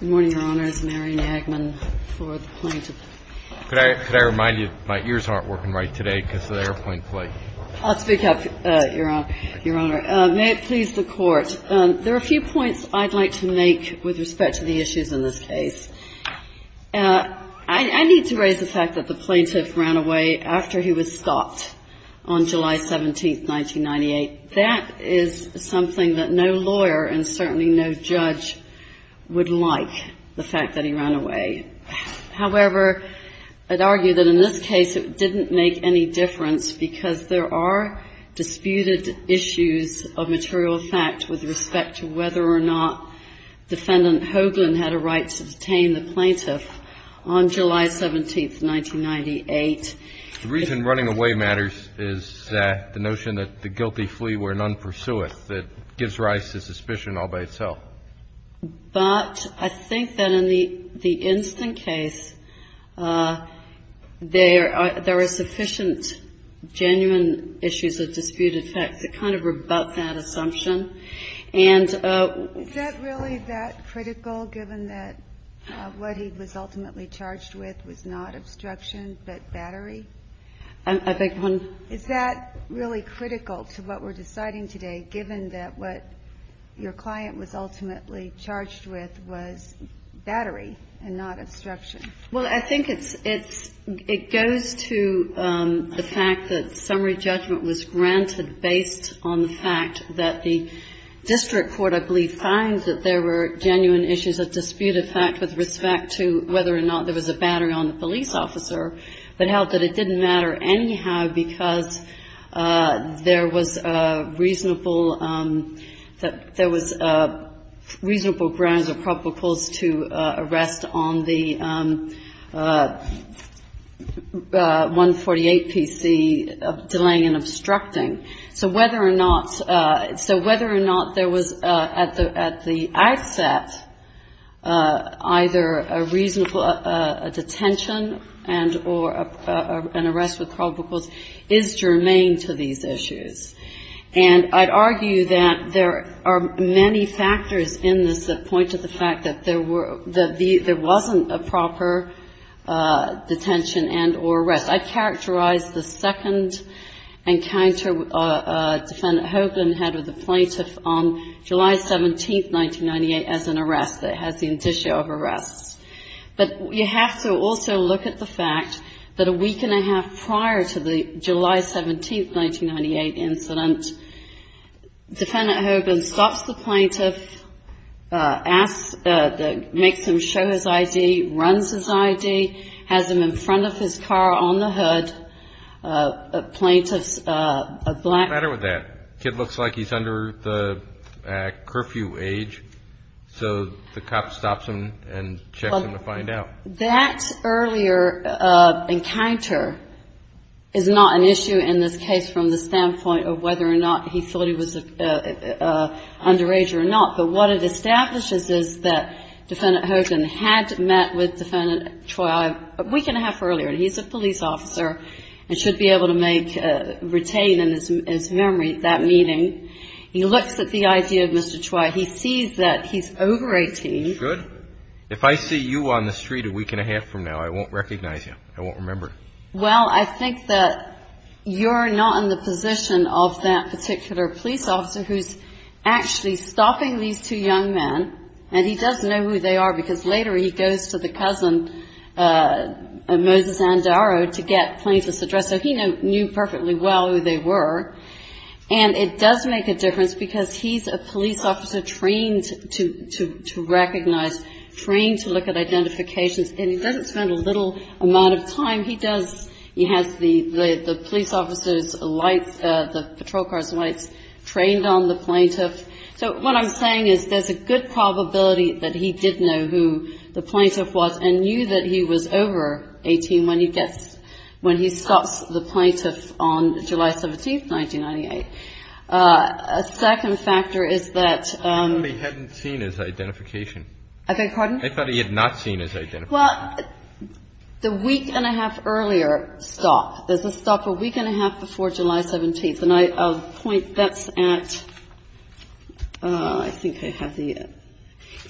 May it please the Court, there are a few points I'd like to make with respect to the issues in this case. I need to raise the fact that the plaintiff ran away after he was stopped on July 17, 1998. That is something that no lawyer and certainly no judge would like, the fact that he ran away. However, I'd argue that in this case it didn't make any difference because there are disputed issues of material fact with respect to whether or not Defendant Hoagland had a right to detain the plaintiff on July 17, 1998. The reason running away matters is the notion that the guilty flee where none pursueth. It gives rise to suspicion all by itself. But I think that in the instant case, there are sufficient genuine issues of disputed facts that kind of rebut that assumption. And we're just going to have to wait and see. And I think that's what we're going to have to wait and see. And I think that's what we're going to have to wait and see. but held that it didn't matter anyhow because there was reasonable grounds or proposals to arrest on the 148 PC, delaying and obstructing. So whether or not there was at the outset either a reasonable detention and or an arrest with probable cause is germane to these issues. And I'd argue that there are many factors in this that point to the fact that there were, that there wasn't a proper detention and or arrest. I'd characterize the second encounter Defendant Hoagland had with the plaintiff on July 17, 1998, as an arrest that has the indicia of arrest. But you have to also look at the fact that a week and a half prior to the July 17, 1998, incident, Defendant Hoagland stops the plaintiff, asks, makes him show his ID, runs his ID, has him in front of his car on the hood. Plaintiff's black. What's the matter with that? The kid looks like he's under the curfew age. So the cop stops him and checks him to find out. That earlier encounter is not an issue in this case from the standpoint of whether or not he thought he was underage or not. But what it establishes is that Defendant Hoagland had met with Defendant Choi a week and a half earlier. And he's a police officer and should be able to make, retain in his memory that meeting. He looks at the ID of Mr. Choi. He sees that he's over 18. If I see you on the street a week and a half from now, I won't recognize you. I won't remember. Well, I think that you're not in the position of that particular police officer who's actually stopping these two young men. And he does know who they are because later he goes to the cousin, Moses Andaro, to get plaintiff's address. So he knew perfectly well who they were. And it does make a difference because he's a police officer trained to recognize, trained to look at identifications, and he doesn't spend a little amount of time. He has the police officer's lights, the patrol car's lights, trained on the plaintiff. So what I'm saying is there's a good probability that he did know who the plaintiff was and knew that he was over 18 when he gets, when he stops the plaintiff on July 17th, 1998. A second factor is that. I thought he hadn't seen his identification. I beg your pardon? I thought he had not seen his identification. Well, the week and a half earlier stop, there's a stop a week and a half before July 17th. And I'll point, that's at, I think I have the,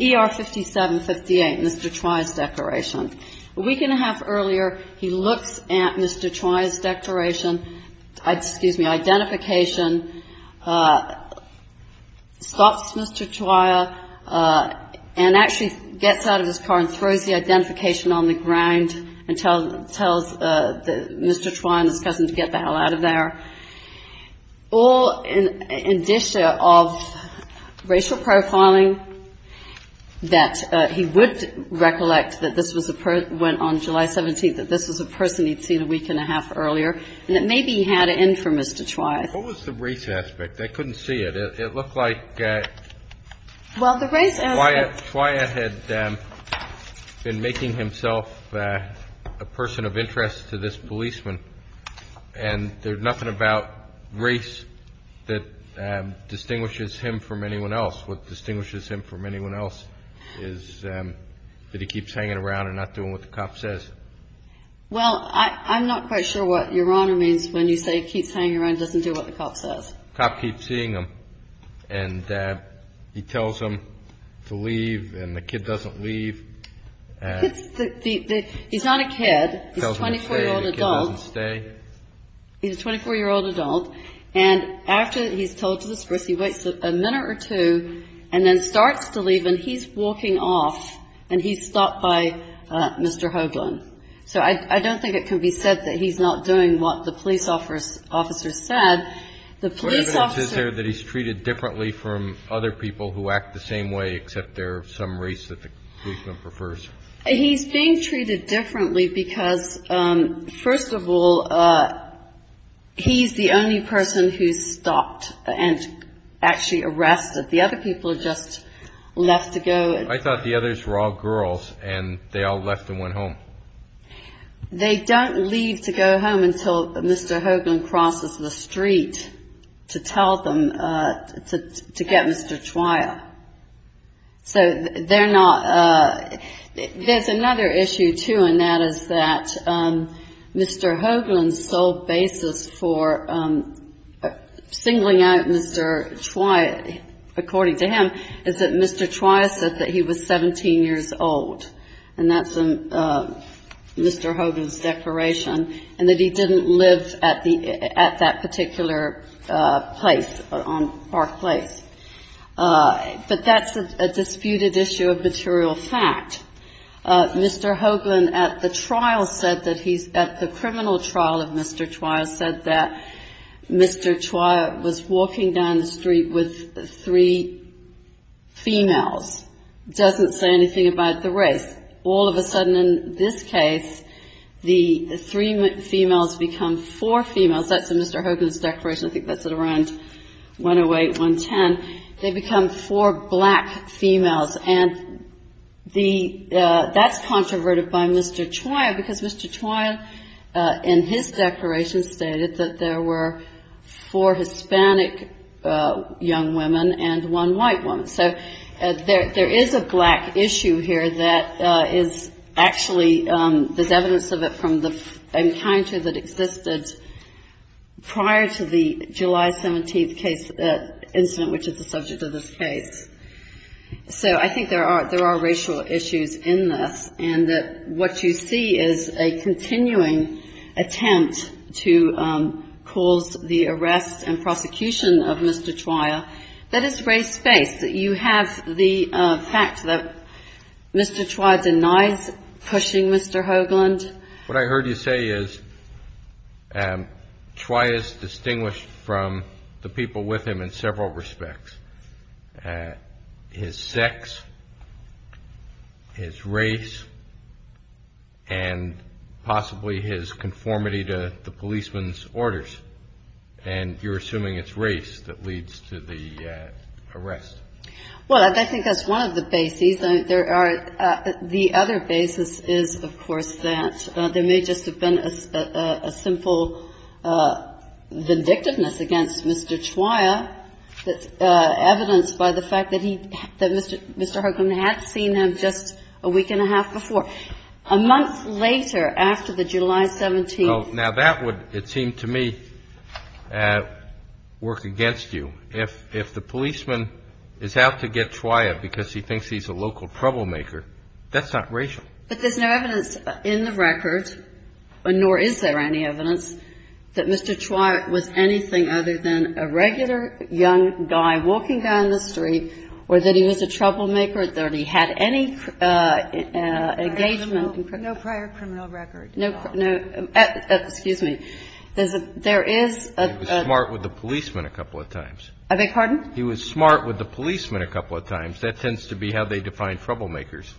ER 5758, Mr. Troia's declaration. A week and a half earlier, he looks at Mr. Troia's declaration, excuse me, identification, stops Mr. Troia, and actually gets out of his car and throws the identification on the ground and tells Mr. Troia and his cousin to get the hell out of there, all in addition of racial profiling that he would recollect that this was a person, went on July 17th, that this was a person he'd seen a week and a half earlier, and that maybe he had it in for Mr. Troia. What was the race aspect? I couldn't see it. It looked like Troia had been making himself a person of interest to this policeman, and there's nothing about race that distinguishes him from anyone else. What distinguishes him from anyone else is that he keeps hanging around and not doing what the cop says. Well, I'm not quite sure what your honor means when you say he keeps hanging around and doesn't do what the cop says. The cop keeps seeing him, and he tells him to leave, and the kid doesn't leave. He's not a kid. He's a 24-year-old adult. The kid doesn't stay. He's a 24-year-old adult, and after he's told to disperse, he waits a minute or two, and then starts to leave, and he's walking off, and he's stopped by Mr. Hoagland. So I don't think it can be said that he's not doing what the police officer said. What evidence is there that he's treated differently from other people who act the same way, except they're of some race that the policeman prefers? He's being treated differently because, first of all, he's the only person who's stopped and actually arrested. The other people are just left to go. I thought the others were all girls, and they all left and went home. They don't leave to go home until Mr. Hoagland crosses the street to tell them to get Mr. Chwaya. So they're not ‑‑ there's another issue, too, and that is that Mr. Hoagland's sole basis for singling out Mr. Chwaya, according to him, is that Mr. Chwaya said that he was 17 years old, and that's in Mr. Hoagland's declaration, and that he didn't live at that particular place, on Park Place. But that's a disputed issue of material fact. Mr. Hoagland at the trial said that he's ‑‑ at the criminal trial of Mr. Chwaya Mr. Chwaya was walking down the street with three females. Doesn't say anything about the race. All of a sudden, in this case, the three females become four females. That's in Mr. Hoagland's declaration. I think that's at around 108, 110. They become four black females, and that's controverted by Mr. Chwaya because Mr. Chwaya, in his declaration, stated that there were four Hispanic young women and one white woman. So there is a black issue here that is actually ‑‑ there's evidence of it from the encounter that existed prior to the July 17th incident, which is the subject of this case. So I think there are racial issues in this, and that what you see is a continuing attempt to cause the arrest and prosecution of Mr. Chwaya. That is race-based. You have the fact that Mr. Chwaya denies pushing Mr. Hoagland. What I heard you say is Chwaya is distinguished from the people with him in several respects. His sex, his race, and possibly his conformity to the policeman's orders. And you're assuming it's race that leads to the arrest. Well, I think that's one of the bases. The other basis is, of course, that there may just have been a simple vindictiveness against Mr. Chwaya. Evidence by the fact that he ‑‑ that Mr. Hoagland had seen him just a week and a half before. A month later, after the July 17th ‑‑ Now, that would, it seemed to me, work against you. If the policeman is out to get Chwaya because he thinks he's a local troublemaker, that's not racial. But there's no evidence in the record, nor is there any evidence, that Mr. Chwaya was anything other than a regular young guy walking down the street, or that he was a troublemaker, or that he had any engagement. No prior criminal record at all. No, no. Excuse me. There is a ‑‑ He was smart with the policeman a couple of times. I beg your pardon? He was smart with the policeman a couple of times. That tends to be how they define troublemakers.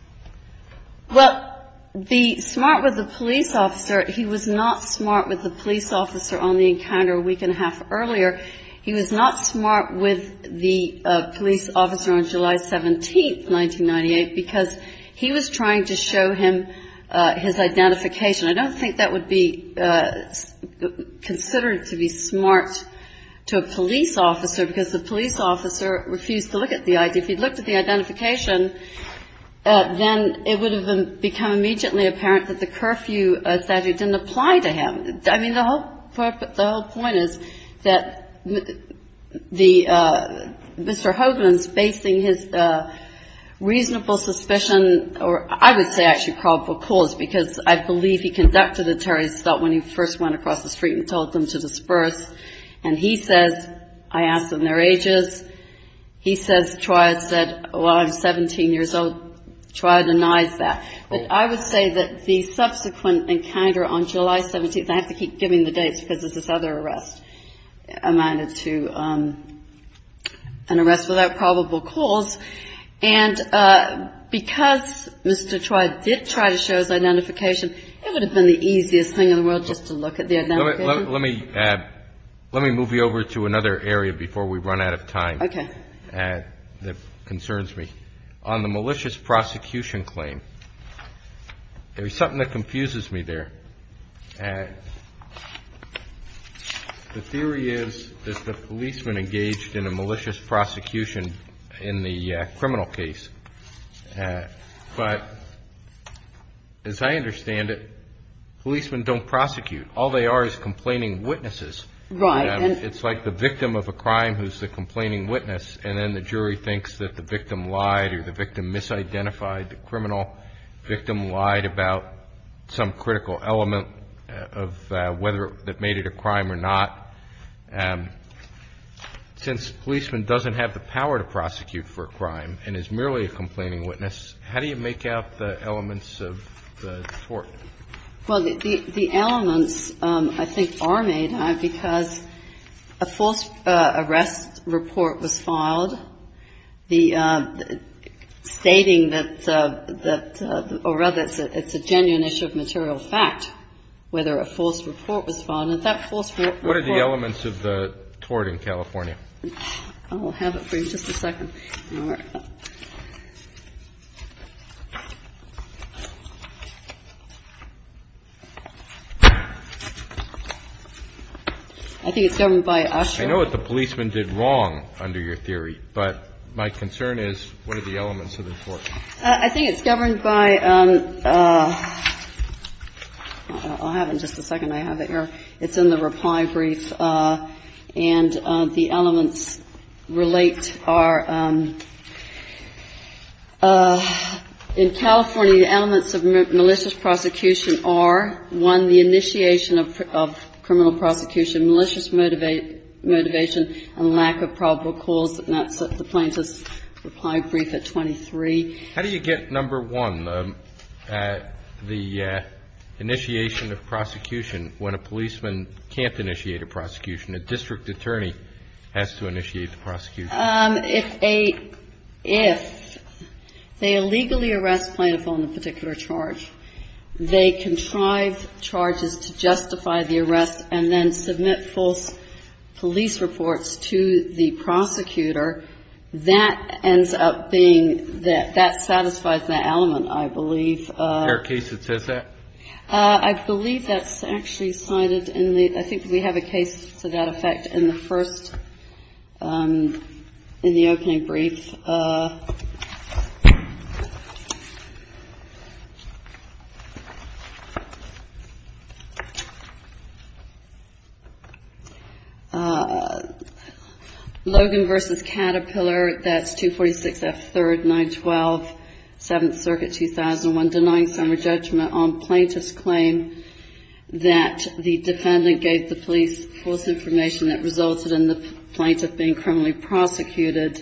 Well, the smart with the police officer, he was not smart with the police officer on the encounter a week and a half earlier. He was not smart with the police officer on July 17th, 1998, because he was trying to show him his identification. I don't think that would be considered to be smart to a police officer, because the police officer refused to look at the ID. If he'd looked at the identification, then it would have become immediately apparent that the curfew statute didn't apply to him. I mean, the whole point is that Mr. Hogan's basing his reasonable suspicion, or I would say actually probable cause, because I believe he conducted a terrorist assault when he first went across the street and told them to disperse. And he says, I asked them their ages. He says, Troy said, well, I'm 17 years old. Troy denies that. But I would say that the subsequent encounter on July 17th, and I have to keep giving the dates because there's this other arrest, amounted to an arrest without probable cause. And because Mr. Troy did try to show his identification, it would have been the easiest thing in the world just to look at the identification. Let me move you over to another area before we run out of time. Okay. That concerns me. On the malicious prosecution claim, there's something that confuses me there. The theory is that the policeman engaged in a malicious prosecution in the criminal case. But as I understand it, policemen don't prosecute. All they are is complaining witnesses. Right. And it's like the victim of a crime who's the complaining witness, and then the jury thinks that the victim lied or the victim misidentified the criminal. The victim lied about some critical element of whether it made it a crime or not. Since the policeman doesn't have the power to prosecute for a crime and is merely a complaining witness, how do you make out the elements of the tort? Well, the elements, I think, are made out because a false arrest report was filed, the stating that the or rather it's a genuine issue of material fact whether a false report was filed. And that false report was filed. What are the elements of the tort in California? I'll have it for you. Just a second. I think it's governed by Usher. I know what the policeman did wrong under your theory, but my concern is what are the elements of the tort? I think it's governed by – I'll have it in just a second. I have it here. It's in the reply brief. And the elements relate are in California the elements of malicious prosecution are, one, the initiation of criminal prosecution, malicious motivation, and lack of probable cause. And that's at the plaintiff's reply brief at 23. How do you get, number one, the initiation of prosecution when a policeman can't initiate a prosecution? A district attorney has to initiate the prosecution. If they illegally arrest plaintiff on a particular charge, they contrive charges to justify the arrest and then submit false police reports to the prosecutor, that ends up being – that satisfies that element, I believe. Is there a case that says that? I believe that's actually cited in the – I think we have a case to that effect in the first – in the opening brief. Logan v. Caterpillar, that's 246 F. 3rd, 912, 7th Circuit, 2001, denying summary judgment on plaintiff's claim that the defendant gave the police false information that resulted in the plaintiff being criminally prosecuted.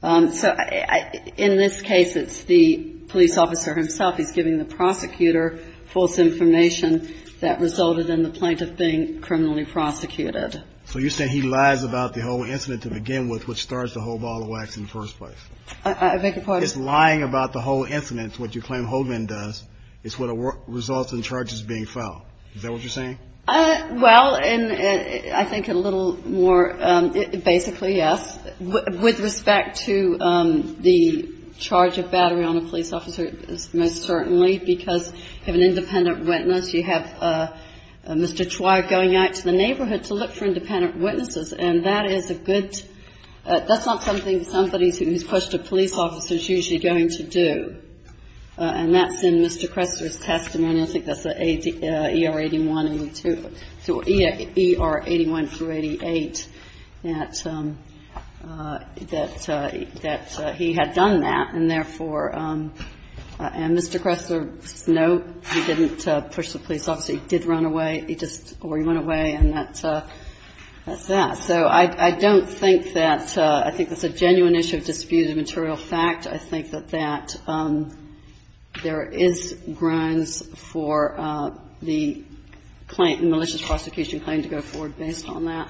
So in this case, it's the police officer himself. He's giving the prosecutor false information that resulted in the plaintiff being criminally prosecuted. So you're saying he lies about the whole incident to begin with, which starts the whole ball of wax in the first place? I beg your pardon? It's lying about the whole incident, what you claim Holdman does, is what results in charges being filed. Is that what you're saying? Well, and I think a little more – basically, yes. With respect to the charge of battery on a police officer, it's most certainly because of an independent witness. You have Mr. Twyre going out to the neighborhood to look for independent witnesses, and that is a good – that's not something somebody who's pushed a police officer is usually going to do. And that's in Mr. Kressler's testimony. I think that's E-R-81 and E-2 – E-R-81 through 88, that he had done that, and therefore – and Mr. Kressler's note, he didn't push the police officer. He did run away. He just – or he went away, and that's that. So I don't think that – I think that's a genuine issue of disputed material fact. I think that that – there is grounds for the claim – malicious prosecution claim to go forward based on that.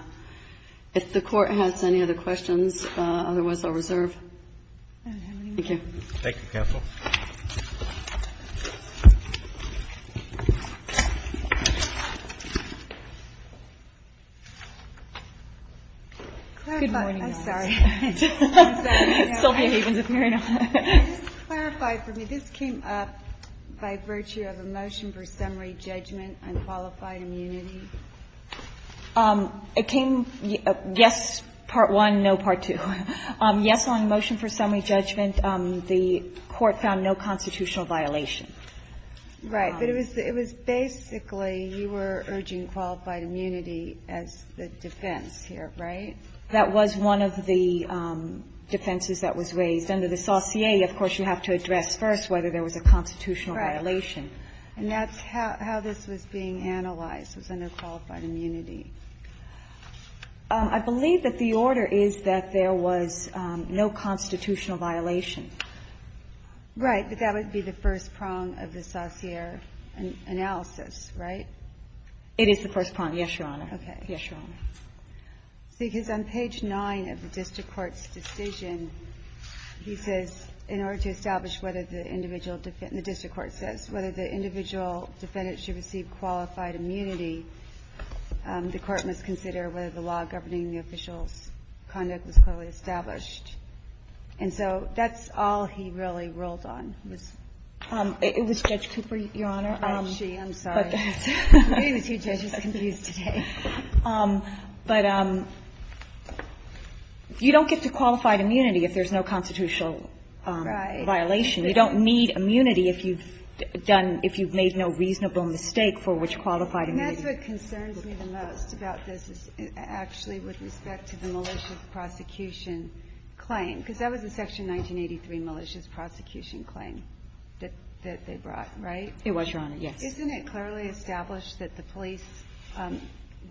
If the Court has any other questions, otherwise I'll reserve. Thank you. Thank you, counsel. Good morning. I'm sorry. Sylvia Havens is appearing on it. Just to clarify for me, this came up by virtue of a motion for summary judgment on qualified immunity? It came – yes, part one, no, part two. Yes, on the motion for summary judgment. The court found no constitutional violation. Right. But it was – it was basically you were urging qualified immunity as the defense here, right? That was one of the defenses that was raised. Under the saucier, of course, you have to address first whether there was a constitutional violation. Right. And that's how this was being analyzed, was a no qualified immunity. I believe that the order is that there was no constitutional violation. Right. But that would be the first prong of the saucier analysis, right? It is the first prong, yes, Your Honor. Okay. Yes, Your Honor. Because on page 9 of the district court's decision, he says, in order to establish whether the individual – the district court says whether the individual defendant should receive qualified immunity, the court must consider whether the law governing the official's conduct was clearly established. And so that's all he really rolled on, was – It was Judge Cooper, Your Honor. And she. I'm sorry. Me and the two judges are confused today. Right. And that's what concerns me the most about this, actually, with respect to the malicious prosecution claim, because that was a Section 1983 malicious prosecution claim that they brought, right? It was, Your Honor, yes. Isn't it clearly established that the police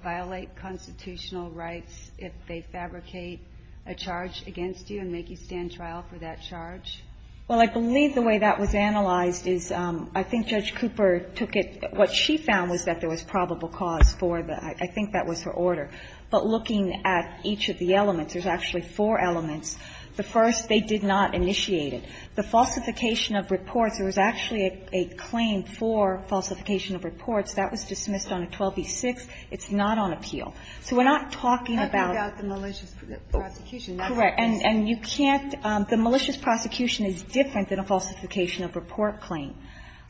violate constitutional rights if they fabricate a charge against you and make you stand trial for that charge? Well, I believe the way that was analyzed is I think Judge Cooper took it – what she found was that there was probable cause for the – I think that was her order. But looking at each of the elements, there's actually four elements. The first, they did not initiate it. The falsification of reports, there was actually a claim for falsification of reports. That was dismissed on a 12b-6. It's not on appeal. So we're not talking about the malicious prosecution. Correct. And you can't – the malicious prosecution is different than a falsification of a report claim.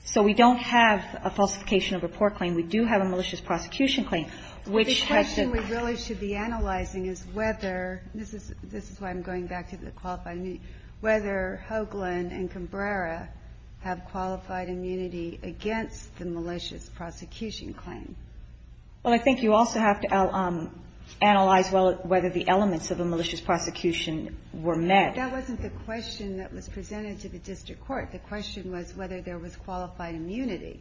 So we don't have a falsification of a report claim. We do have a malicious prosecution claim, which has to – The question we really should be analyzing is whether – this is why I'm going back to the qualified immunity – whether Hoagland and Cambrera have qualified immunity against the malicious prosecution claim. Well, I think you also have to analyze whether the elements of a malicious prosecution were met. That wasn't the question that was presented to the district court. The question was whether there was qualified immunity.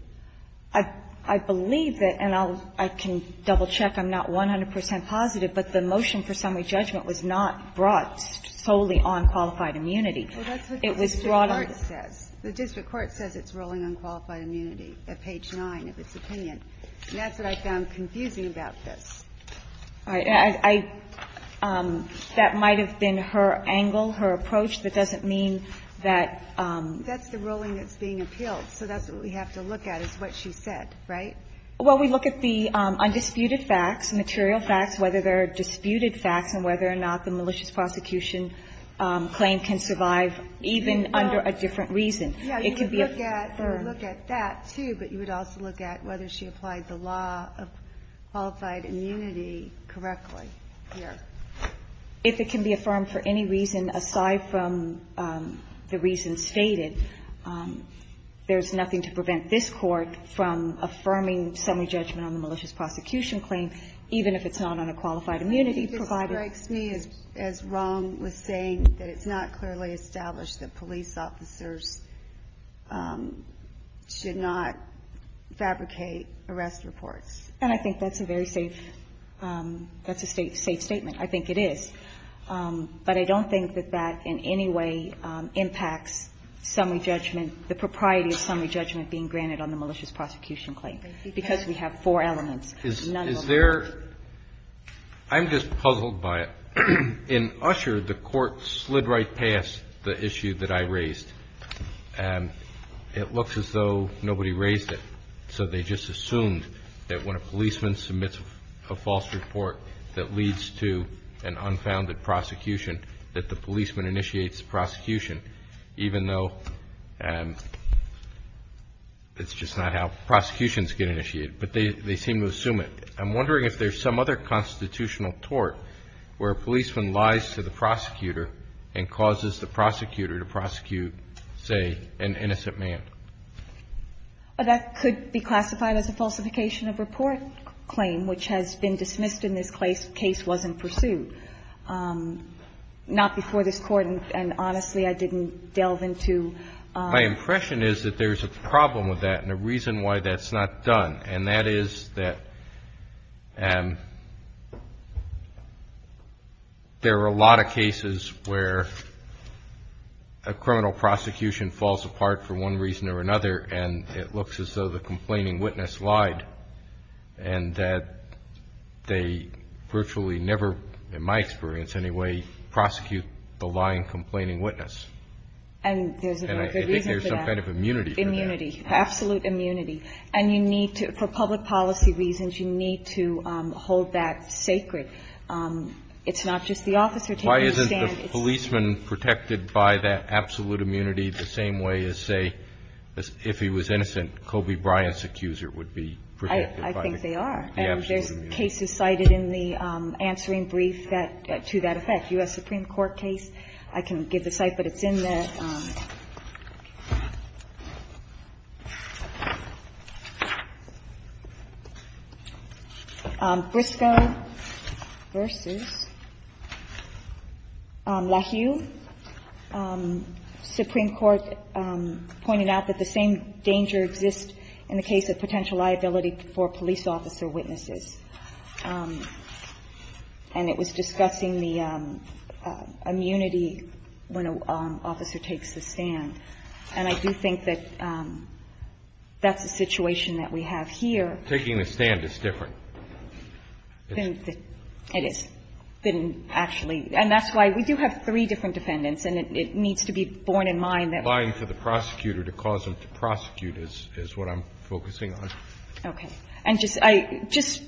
I believe that – and I'll – I can double-check. I'm not 100 percent positive. But the motion for summary judgment was not brought solely on qualified immunity. It was brought on – Well, that's what the district court says. The district court says it's ruling on qualified immunity at page 9 of its opinion. And that's what I found confusing about this. All right. I – that might have been her angle, her approach. That doesn't mean that – That's the ruling that's being appealed. So that's what we have to look at is what she said, right? Well, we look at the undisputed facts, material facts, whether they're disputed facts and whether or not the malicious prosecution claim can survive even under a different reason. It could be a third. Yeah, you would look at that, too, but you would also look at whether she applied the law of qualified immunity correctly here. If it can be affirmed for any reason aside from the reason stated, there's nothing to prevent this Court from affirming summary judgment on the malicious prosecution claim even if it's not on a qualified immunity provided – I think it strikes me as wrong with saying that it's not clearly established that police officers should not fabricate arrest reports. And I think that's a very safe – that's a safe statement. I think it is. But I don't think that that in any way impacts summary judgment, the propriety of summary judgment being granted on the malicious prosecution claim because we have four elements. Is there – I'm just puzzled by it. When Usher, the Court, slid right past the issue that I raised, it looks as though nobody raised it, so they just assumed that when a policeman submits a false report that leads to an unfounded prosecution, that the policeman initiates prosecution even though it's just not how prosecutions get initiated. But they seem to assume it. I'm wondering if there's some other constitutional tort where a policeman lies to the prosecutor and causes the prosecutor to prosecute, say, an innocent man. That could be classified as a falsification of report claim, which has been dismissed in this case wasn't pursued. Not before this Court, and honestly, I didn't delve into – My impression is that there's a problem with that and a reason why that's not done, and that is that there are a lot of cases where a criminal prosecution falls apart for one reason or another and it looks as though the complaining witness lied and that they virtually never, in my experience anyway, prosecute the lying complaining witness. And there's a reason for that. And I think there's some kind of immunity for that. Immunity. Absolute immunity. And you need to – for public policy reasons, you need to hold that sacred. It's not just the officer taking the stand. Why isn't the policeman protected by that absolute immunity the same way as, say, if he was innocent, Kobe Bryant's accuser would be protected by the absolute immunity? I think they are. And there's cases cited in the answering brief that – to that effect. U.S. Supreme Court case. I can give the site, but it's in the – Briscoe v. LaHue. Supreme Court pointed out that the same danger exists in the case of potential liability for police officer witnesses. And it was discussing the immunity when an officer takes the stand. And I do think that that's a situation that we have here. Taking the stand is different. It is. Than actually – and that's why we do have three different defendants, and it needs to be borne in mind that we – Applying for the prosecutor to cause them to prosecute is what I'm focusing Okay. And just – I – just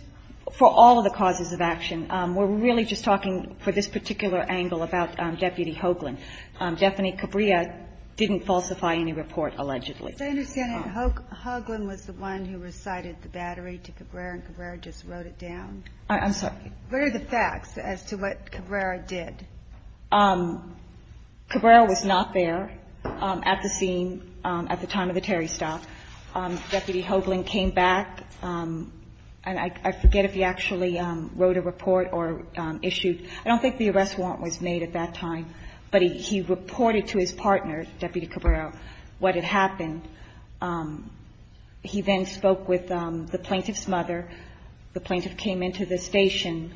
for all of the causes of action, we're really just talking for this particular angle about Deputy Hoagland. Daphne Cabrera didn't falsify any report allegedly. As I understand it, Hoagland was the one who recited the battery to Cabrera, and Cabrera just wrote it down. I'm sorry. What are the facts as to what Cabrera did? Cabrera was not there at the scene at the time of the Terry stop. Deputy Hoagland came back. And I forget if he actually wrote a report or issued – I don't think the arrest warrant was made at that time. But he reported to his partner, Deputy Cabrera, what had happened. He then spoke with the plaintiff's mother. The plaintiff came into the station.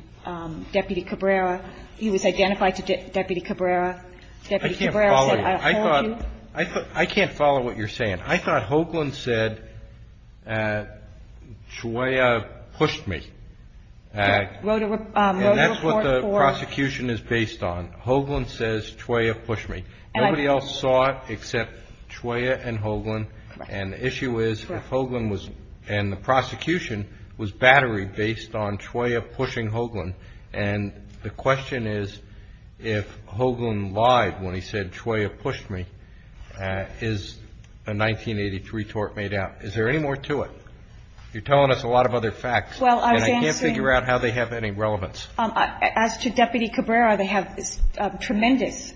Deputy Cabrera – he was identified to Deputy Cabrera. Deputy Cabrera said, I'll call you. I thought – I can't follow what you're saying. I thought Hoagland said, Chwaya pushed me. And that's what the prosecution is based on. Hoagland says, Chwaya pushed me. Nobody else saw it except Chwaya and Hoagland. And the issue is if Hoagland was – and the prosecution was battery-based on Chwaya pushing Hoagland. And the question is if Hoagland lied when he said, Chwaya pushed me, is a 1983 tort made out. Is there any more to it? You're telling us a lot of other facts. And I can't figure out how they have any relevance. As to Deputy Cabrera, they have tremendous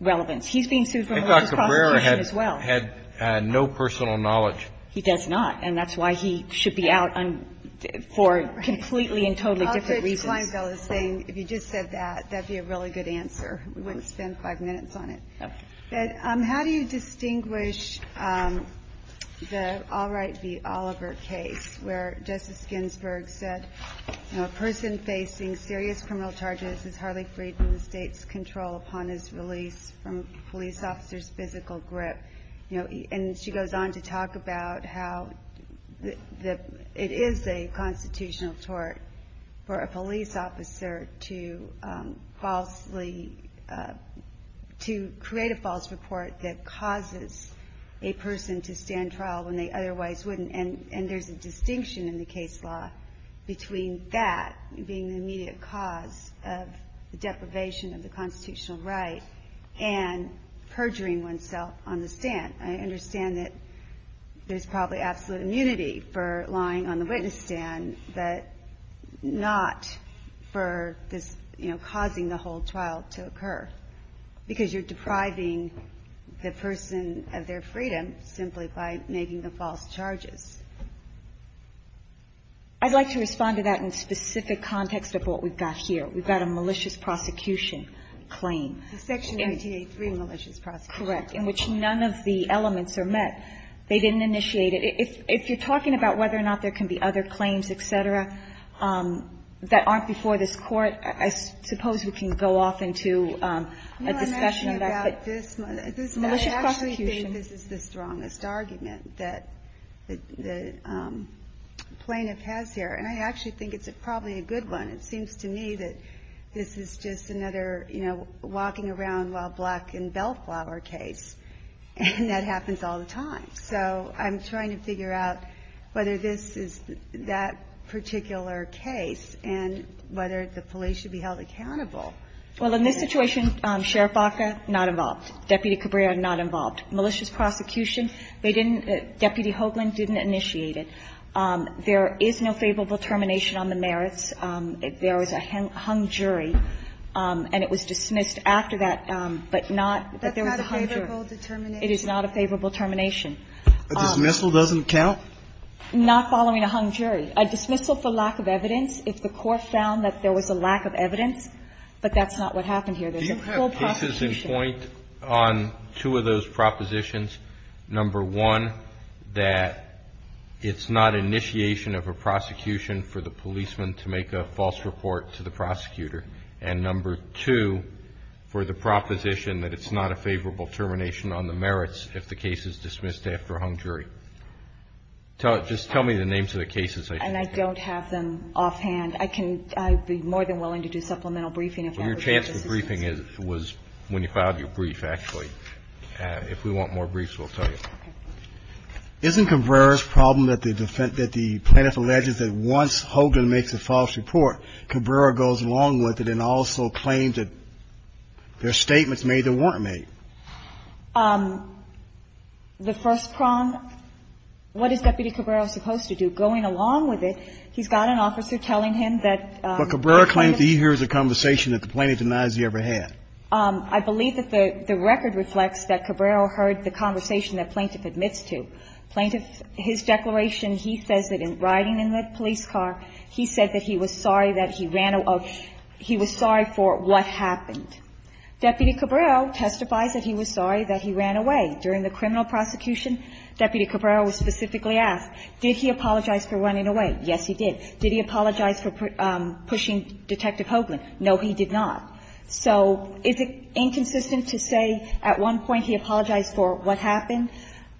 relevance. He's being sued for a religious prostitution as well. I thought Cabrera had no personal knowledge. He does not. And that's why he should be out for completely and totally different reasons. If you just said that, that would be a really good answer. We wouldn't spend five minutes on it. Okay. How do you distinguish the Albright v. Oliver case where Justice Ginsburg said, you know, a person facing serious criminal charges is hardly freed from the State's control upon his release from a police officer's physical grip. You know, and she goes on to talk about how it is a constitutional tort for a police officer to create a false report that causes a person to stand trial when they otherwise wouldn't. And there's a distinction in the case law between that being the immediate cause of the deprivation of the constitutional right and perjuring oneself on the stand. I understand that there's probably absolute immunity for lying on the witness stand, but not for this, you know, causing the whole trial to occur, because you're depriving the person of their freedom simply by making the false charges. I'd like to respond to that in specific context of what we've got here. We've got a malicious prosecution claim. Section 1883 malicious prosecution. Correct. In which none of the elements are met. They didn't initiate it. If you're talking about whether or not there can be other claims, et cetera, that aren't before this Court, I suppose we can go off into a discussion about that. No, I'm asking about this. Malicious prosecution. I actually think this is the strongest argument that the plaintiff has here. And I actually think it's probably a good one. It seems to me that this is just another, you know, walking around while black in bellflower case. And that happens all the time. So I'm trying to figure out whether this is that particular case and whether the police should be held accountable. Well, in this situation, Sheriff Baca, not involved. Deputy Cabrera, not involved. Malicious prosecution, they didn't, Deputy Hoagland didn't initiate it. There is no favorable termination on the merits. There is a hung jury, and it was dismissed after that, but not that there was a hung jury. That's not a favorable determination. It is not a favorable termination. A dismissal doesn't count? Not following a hung jury. A dismissal for lack of evidence, if the court found that there was a lack of evidence, but that's not what happened here. There's a full prosecution. Do you have cases in point on two of those propositions? Number one, that it's not initiation of a prosecution for the policeman to make a false report to the prosecutor? And number two, for the proposition that it's not a favorable termination on the merits if the case is dismissed after a hung jury? Just tell me the names of the cases. And I don't have them offhand. I can be more than willing to do supplemental briefing. Well, your chance for briefing was when you filed your brief, actually. If we want more briefs, we'll tell you. Okay. Isn't Cabrera's problem that the plaintiff alleges that once Hoagland makes a false report, Cabrera goes along with it and also claims that there are statements made that weren't made? The first prong, what is Deputy Cabrera supposed to do? Going along with it, he's got an officer telling him that the plaintiff ---- But Cabrera claims that he hears a conversation that the plaintiff denies he ever had. I believe that the record reflects that Cabrera heard the conversation that the plaintiff admits to. Plaintiff, his declaration, he says that in riding in the police car, he said that he was sorry that he ran a ---- he was sorry for what happened. Deputy Cabrera testifies that he was sorry that he ran away. During the criminal prosecution, Deputy Cabrera was specifically asked, did he apologize for running away? Yes, he did. Did he apologize for pushing Detective Hoagland? No, he did not. So is it inconsistent to say at one point he apologized for what happened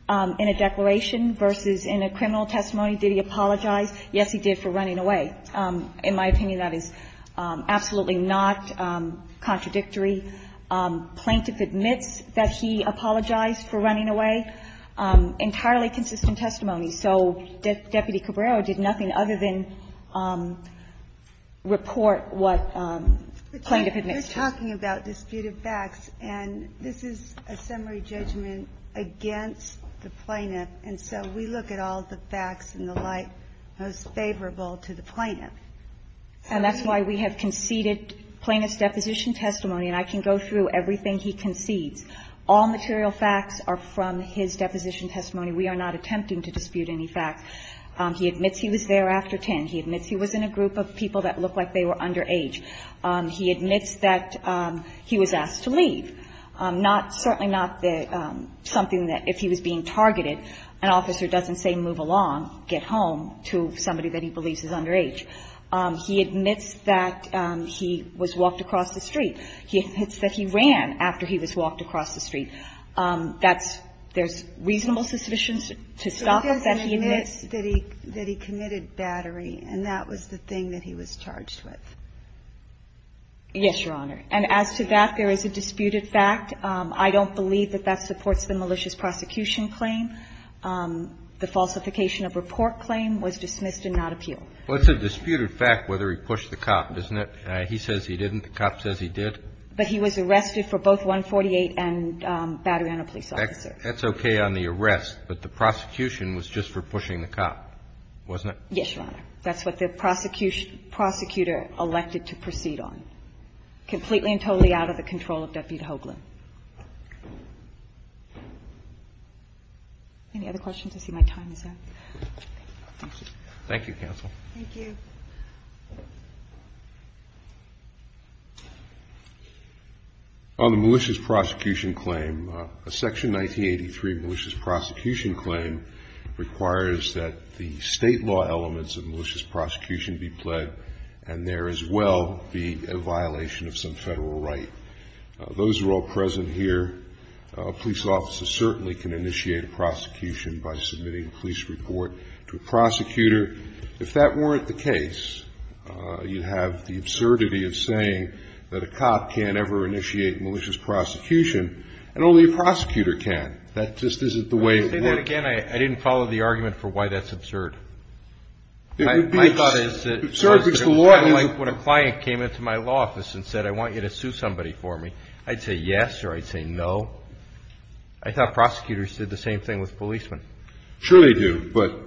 in a declaration versus in a criminal testimony, did he apologize? Yes, he did, for running away. But in my opinion, that is absolutely not contradictory. Plaintiff admits that he apologized for running away. Entirely consistent testimony. So Deputy Cabrera did nothing other than report what plaintiff admits to. We're talking about disputed facts, and this is a summary judgment against the plaintiff. And so we look at all the facts and the like most favorable to the plaintiff. And that's why we have conceded plaintiff's deposition testimony. And I can go through everything he concedes. All material facts are from his deposition testimony. We are not attempting to dispute any facts. He admits he was there after 10. He admits he was in a group of people that looked like they were underage. He admits that he was asked to leave. Certainly not something that, if he was being targeted, an officer doesn't say move along, get home, to somebody that he believes is underage. He admits that he was walked across the street. He admits that he ran after he was walked across the street. That's – there's reasonable suspicions to stop him. He admits that he committed battery, and that was the thing that he was charged with. Yes, Your Honor. And as to that, there is a disputed fact. I don't believe that that supports the malicious prosecution claim. The falsification of report claim was dismissed and not appealed. Well, it's a disputed fact whether he pushed the cop, isn't it? He says he didn't. The cop says he did. But he was arrested for both 148 and battery on a police officer. That's okay on the arrest, but the prosecution was just for pushing the cop, wasn't Yes, Your Honor. That's what the prosecutor elected to proceed on, completely and totally out of the control of Deputy Hoagland. Any other questions? I see my time is up. Thank you. Thank you, counsel. Thank you. On the malicious prosecution claim, a Section 1983 malicious prosecution claim requires that the state law elements of malicious prosecution be pled, and there as well be a violation of some Federal right. Those are all present here. A police officer certainly can initiate a prosecution by submitting a police report to a prosecutor. If that weren't the case, you'd have the absurdity of saying that a cop can't ever initiate malicious prosecution, and only a prosecutor can. That just isn't the way it works. Let me say that again. I didn't follow the argument for why that's absurd. It would be absurd because the law is. When a client came into my law office and said, I want you to sue somebody for me, I'd say yes or I'd say no. I thought prosecutors did the same thing with policemen. Sure they do. But,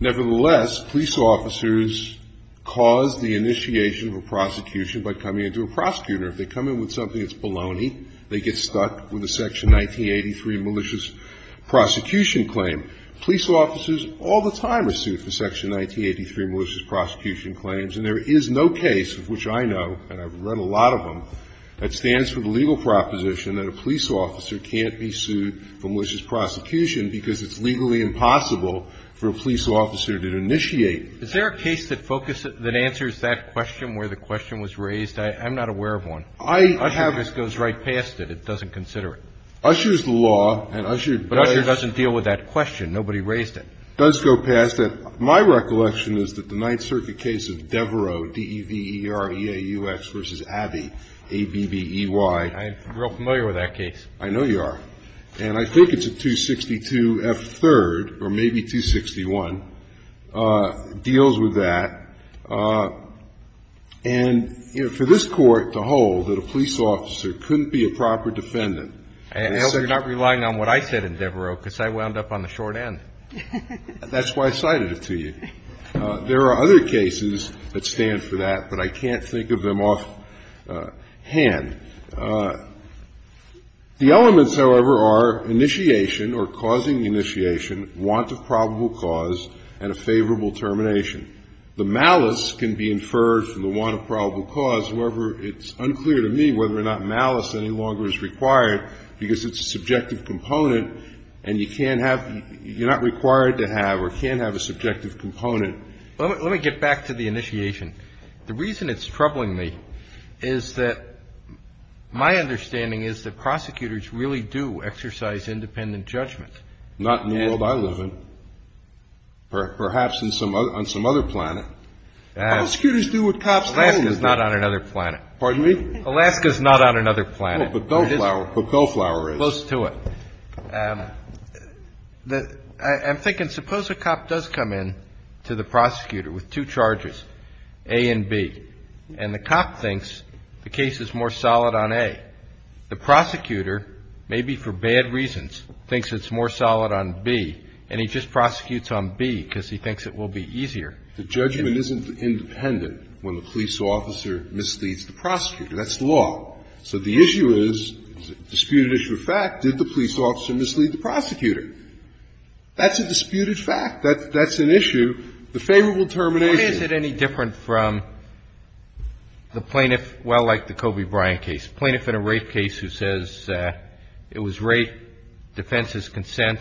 nevertheless, police officers cause the initiation of a prosecution by coming into a prosecutor. If they come in with something that's baloney, they get stuck with a Section 1983 malicious prosecution claim. Police officers all the time are sued for Section 1983 malicious prosecution claims, and there is no case of which I know, and I've read a lot of them, that stands for the legal proposition that a police officer can't be sued for malicious prosecution because it's legally impossible for a police officer to initiate. Is there a case that focuses, that answers that question where the question was raised? I'm not aware of one. I have. Usher just goes right past it. It doesn't consider it. Usher's the law, and Usher does. But Usher doesn't deal with that question. Nobody raised it. It does go past it. My recollection is that the Ninth Circuit case of Devereaux, D-E-V-E-R-E-A-U-X v. Abbey, A-B-B-E-Y. I'm real familiar with that case. I know you are. And I think it's a 262F3rd, or maybe 261, deals with that. And, you know, for this Court to hold that a police officer couldn't be a proper defendant. And you're not relying on what I said in Devereaux because I wound up on the short end. That's why I cited it to you. There are other cases that stand for that, but I can't think of them offhand. The elements, however, are initiation or causing initiation, want of probable cause, and a favorable termination. The malice can be inferred from the want of probable cause. However, it's unclear to me whether or not malice any longer is required because it's a subjective component, and you can't have the — you're not required to have or can't have a subjective component. Let me get back to the initiation. The reason it's troubling me is that my understanding is that prosecutors really do exercise independent judgment. Not in the world I live in. Perhaps on some other planet. Prosecutors do what cops do. Alaska's not on another planet. Pardon me? Alaska's not on another planet. But Bellflower is. Close to it. I'm thinking, suppose a cop does come in to the prosecutor with two charges. A and B. And the cop thinks the case is more solid on A. The prosecutor, maybe for bad reasons, thinks it's more solid on B. And he just prosecutes on B because he thinks it will be easier. The judgment isn't independent when the police officer misleads the prosecutor. That's the law. So the issue is, disputed issue of fact, did the police officer mislead the prosecutor? That's a disputed fact. That's an issue. The favorable termination. What is it any different from the plaintiff, well, like the Kobe Bryant case, plaintiff in a rape case who says it was rape, defense is consent,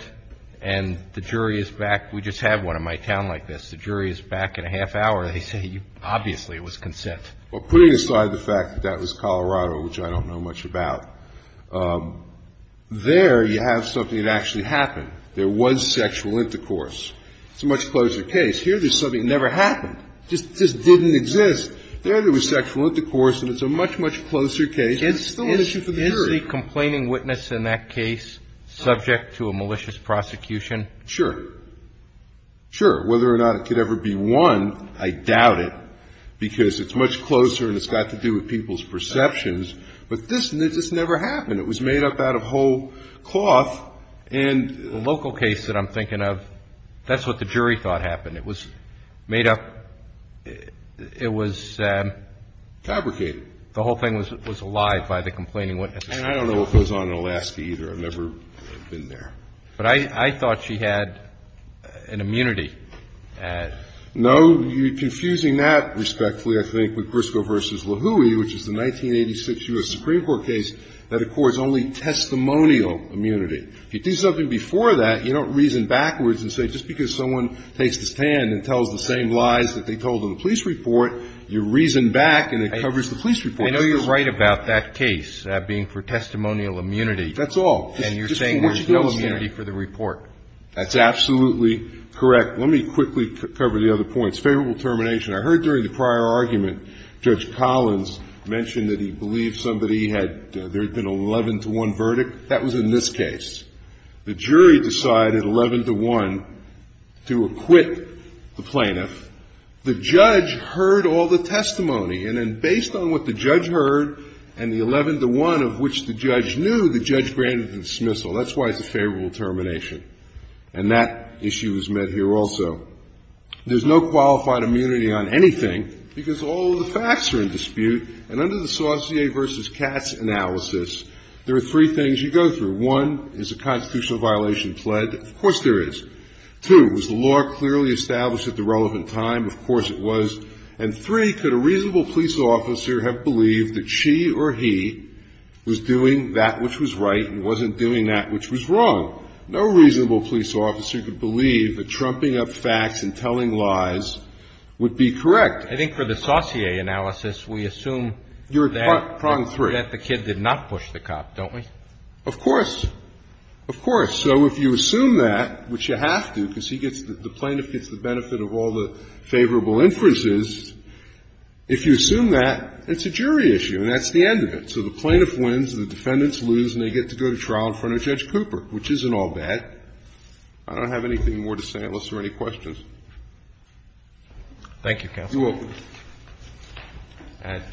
and the jury is back. We just had one in my town like this. The jury is back in a half hour. They say obviously it was consent. Well, putting aside the fact that that was Colorado, which I don't know much about, there you have something that actually happened. There was sexual intercourse. It's a much closer case. Here there's something that never happened, just didn't exist. There there was sexual intercourse, and it's a much, much closer case, and it's still an issue for the jury. Is the complaining witness in that case subject to a malicious prosecution? Sure. Sure. Whether or not it could ever be one, I doubt it, because it's much closer and it's got to do with people's perceptions. But this just never happened. It was made up out of whole cloth. The local case that I'm thinking of, that's what the jury thought happened. It was made up. It was fabricated. The whole thing was alive by the complaining witness. And I don't know if it was on in Alaska, either. I've never been there. But I thought she had an immunity. No. You're confusing that respectfully, I think, with Briscoe v. If you do something before that, you don't reason backwards and say just because someone takes this stand and tells the same lies that they told in the police report, you reason back and it covers the police report. I know you're right about that case being for testimonial immunity. That's all. And you're saying there's no immunity for the report. That's absolutely correct. Let me quickly cover the other points. Favorable termination. I heard during the prior argument Judge Collins mentioned that he believed somebody had, there had been an 11-to-1 verdict. That was in this case. The jury decided 11-to-1 to acquit the plaintiff. The judge heard all the testimony. And then based on what the judge heard and the 11-to-1 of which the judge knew, the judge granted the dismissal. That's why it's a favorable termination. And that issue was met here also. There's no qualified immunity on anything because all of the facts are in dispute. And under the Saucier v. Katz analysis, there are three things you go through. One, is the constitutional violation pled? Of course there is. Two, was the law clearly established at the relevant time? Of course it was. And three, could a reasonable police officer have believed that she or he was doing that which was right and wasn't doing that which was wrong? No reasonable police officer could believe that trumping up facts and telling lies would be correct. I think for the Saucier analysis, we assume that the kid did not push the cop, don't we? Of course. Of course. So if you assume that, which you have to because he gets, the plaintiff gets the benefit of all the favorable inferences. If you assume that, it's a jury issue and that's the end of it. So the plaintiff wins, the defendants lose, and they get to go to trial in front of Judge Cooper, which isn't all bad. I don't have anything more to say unless there are any questions. Thank you, counsel. You're welcome.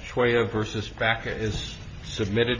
Choya v. Baca is submitted.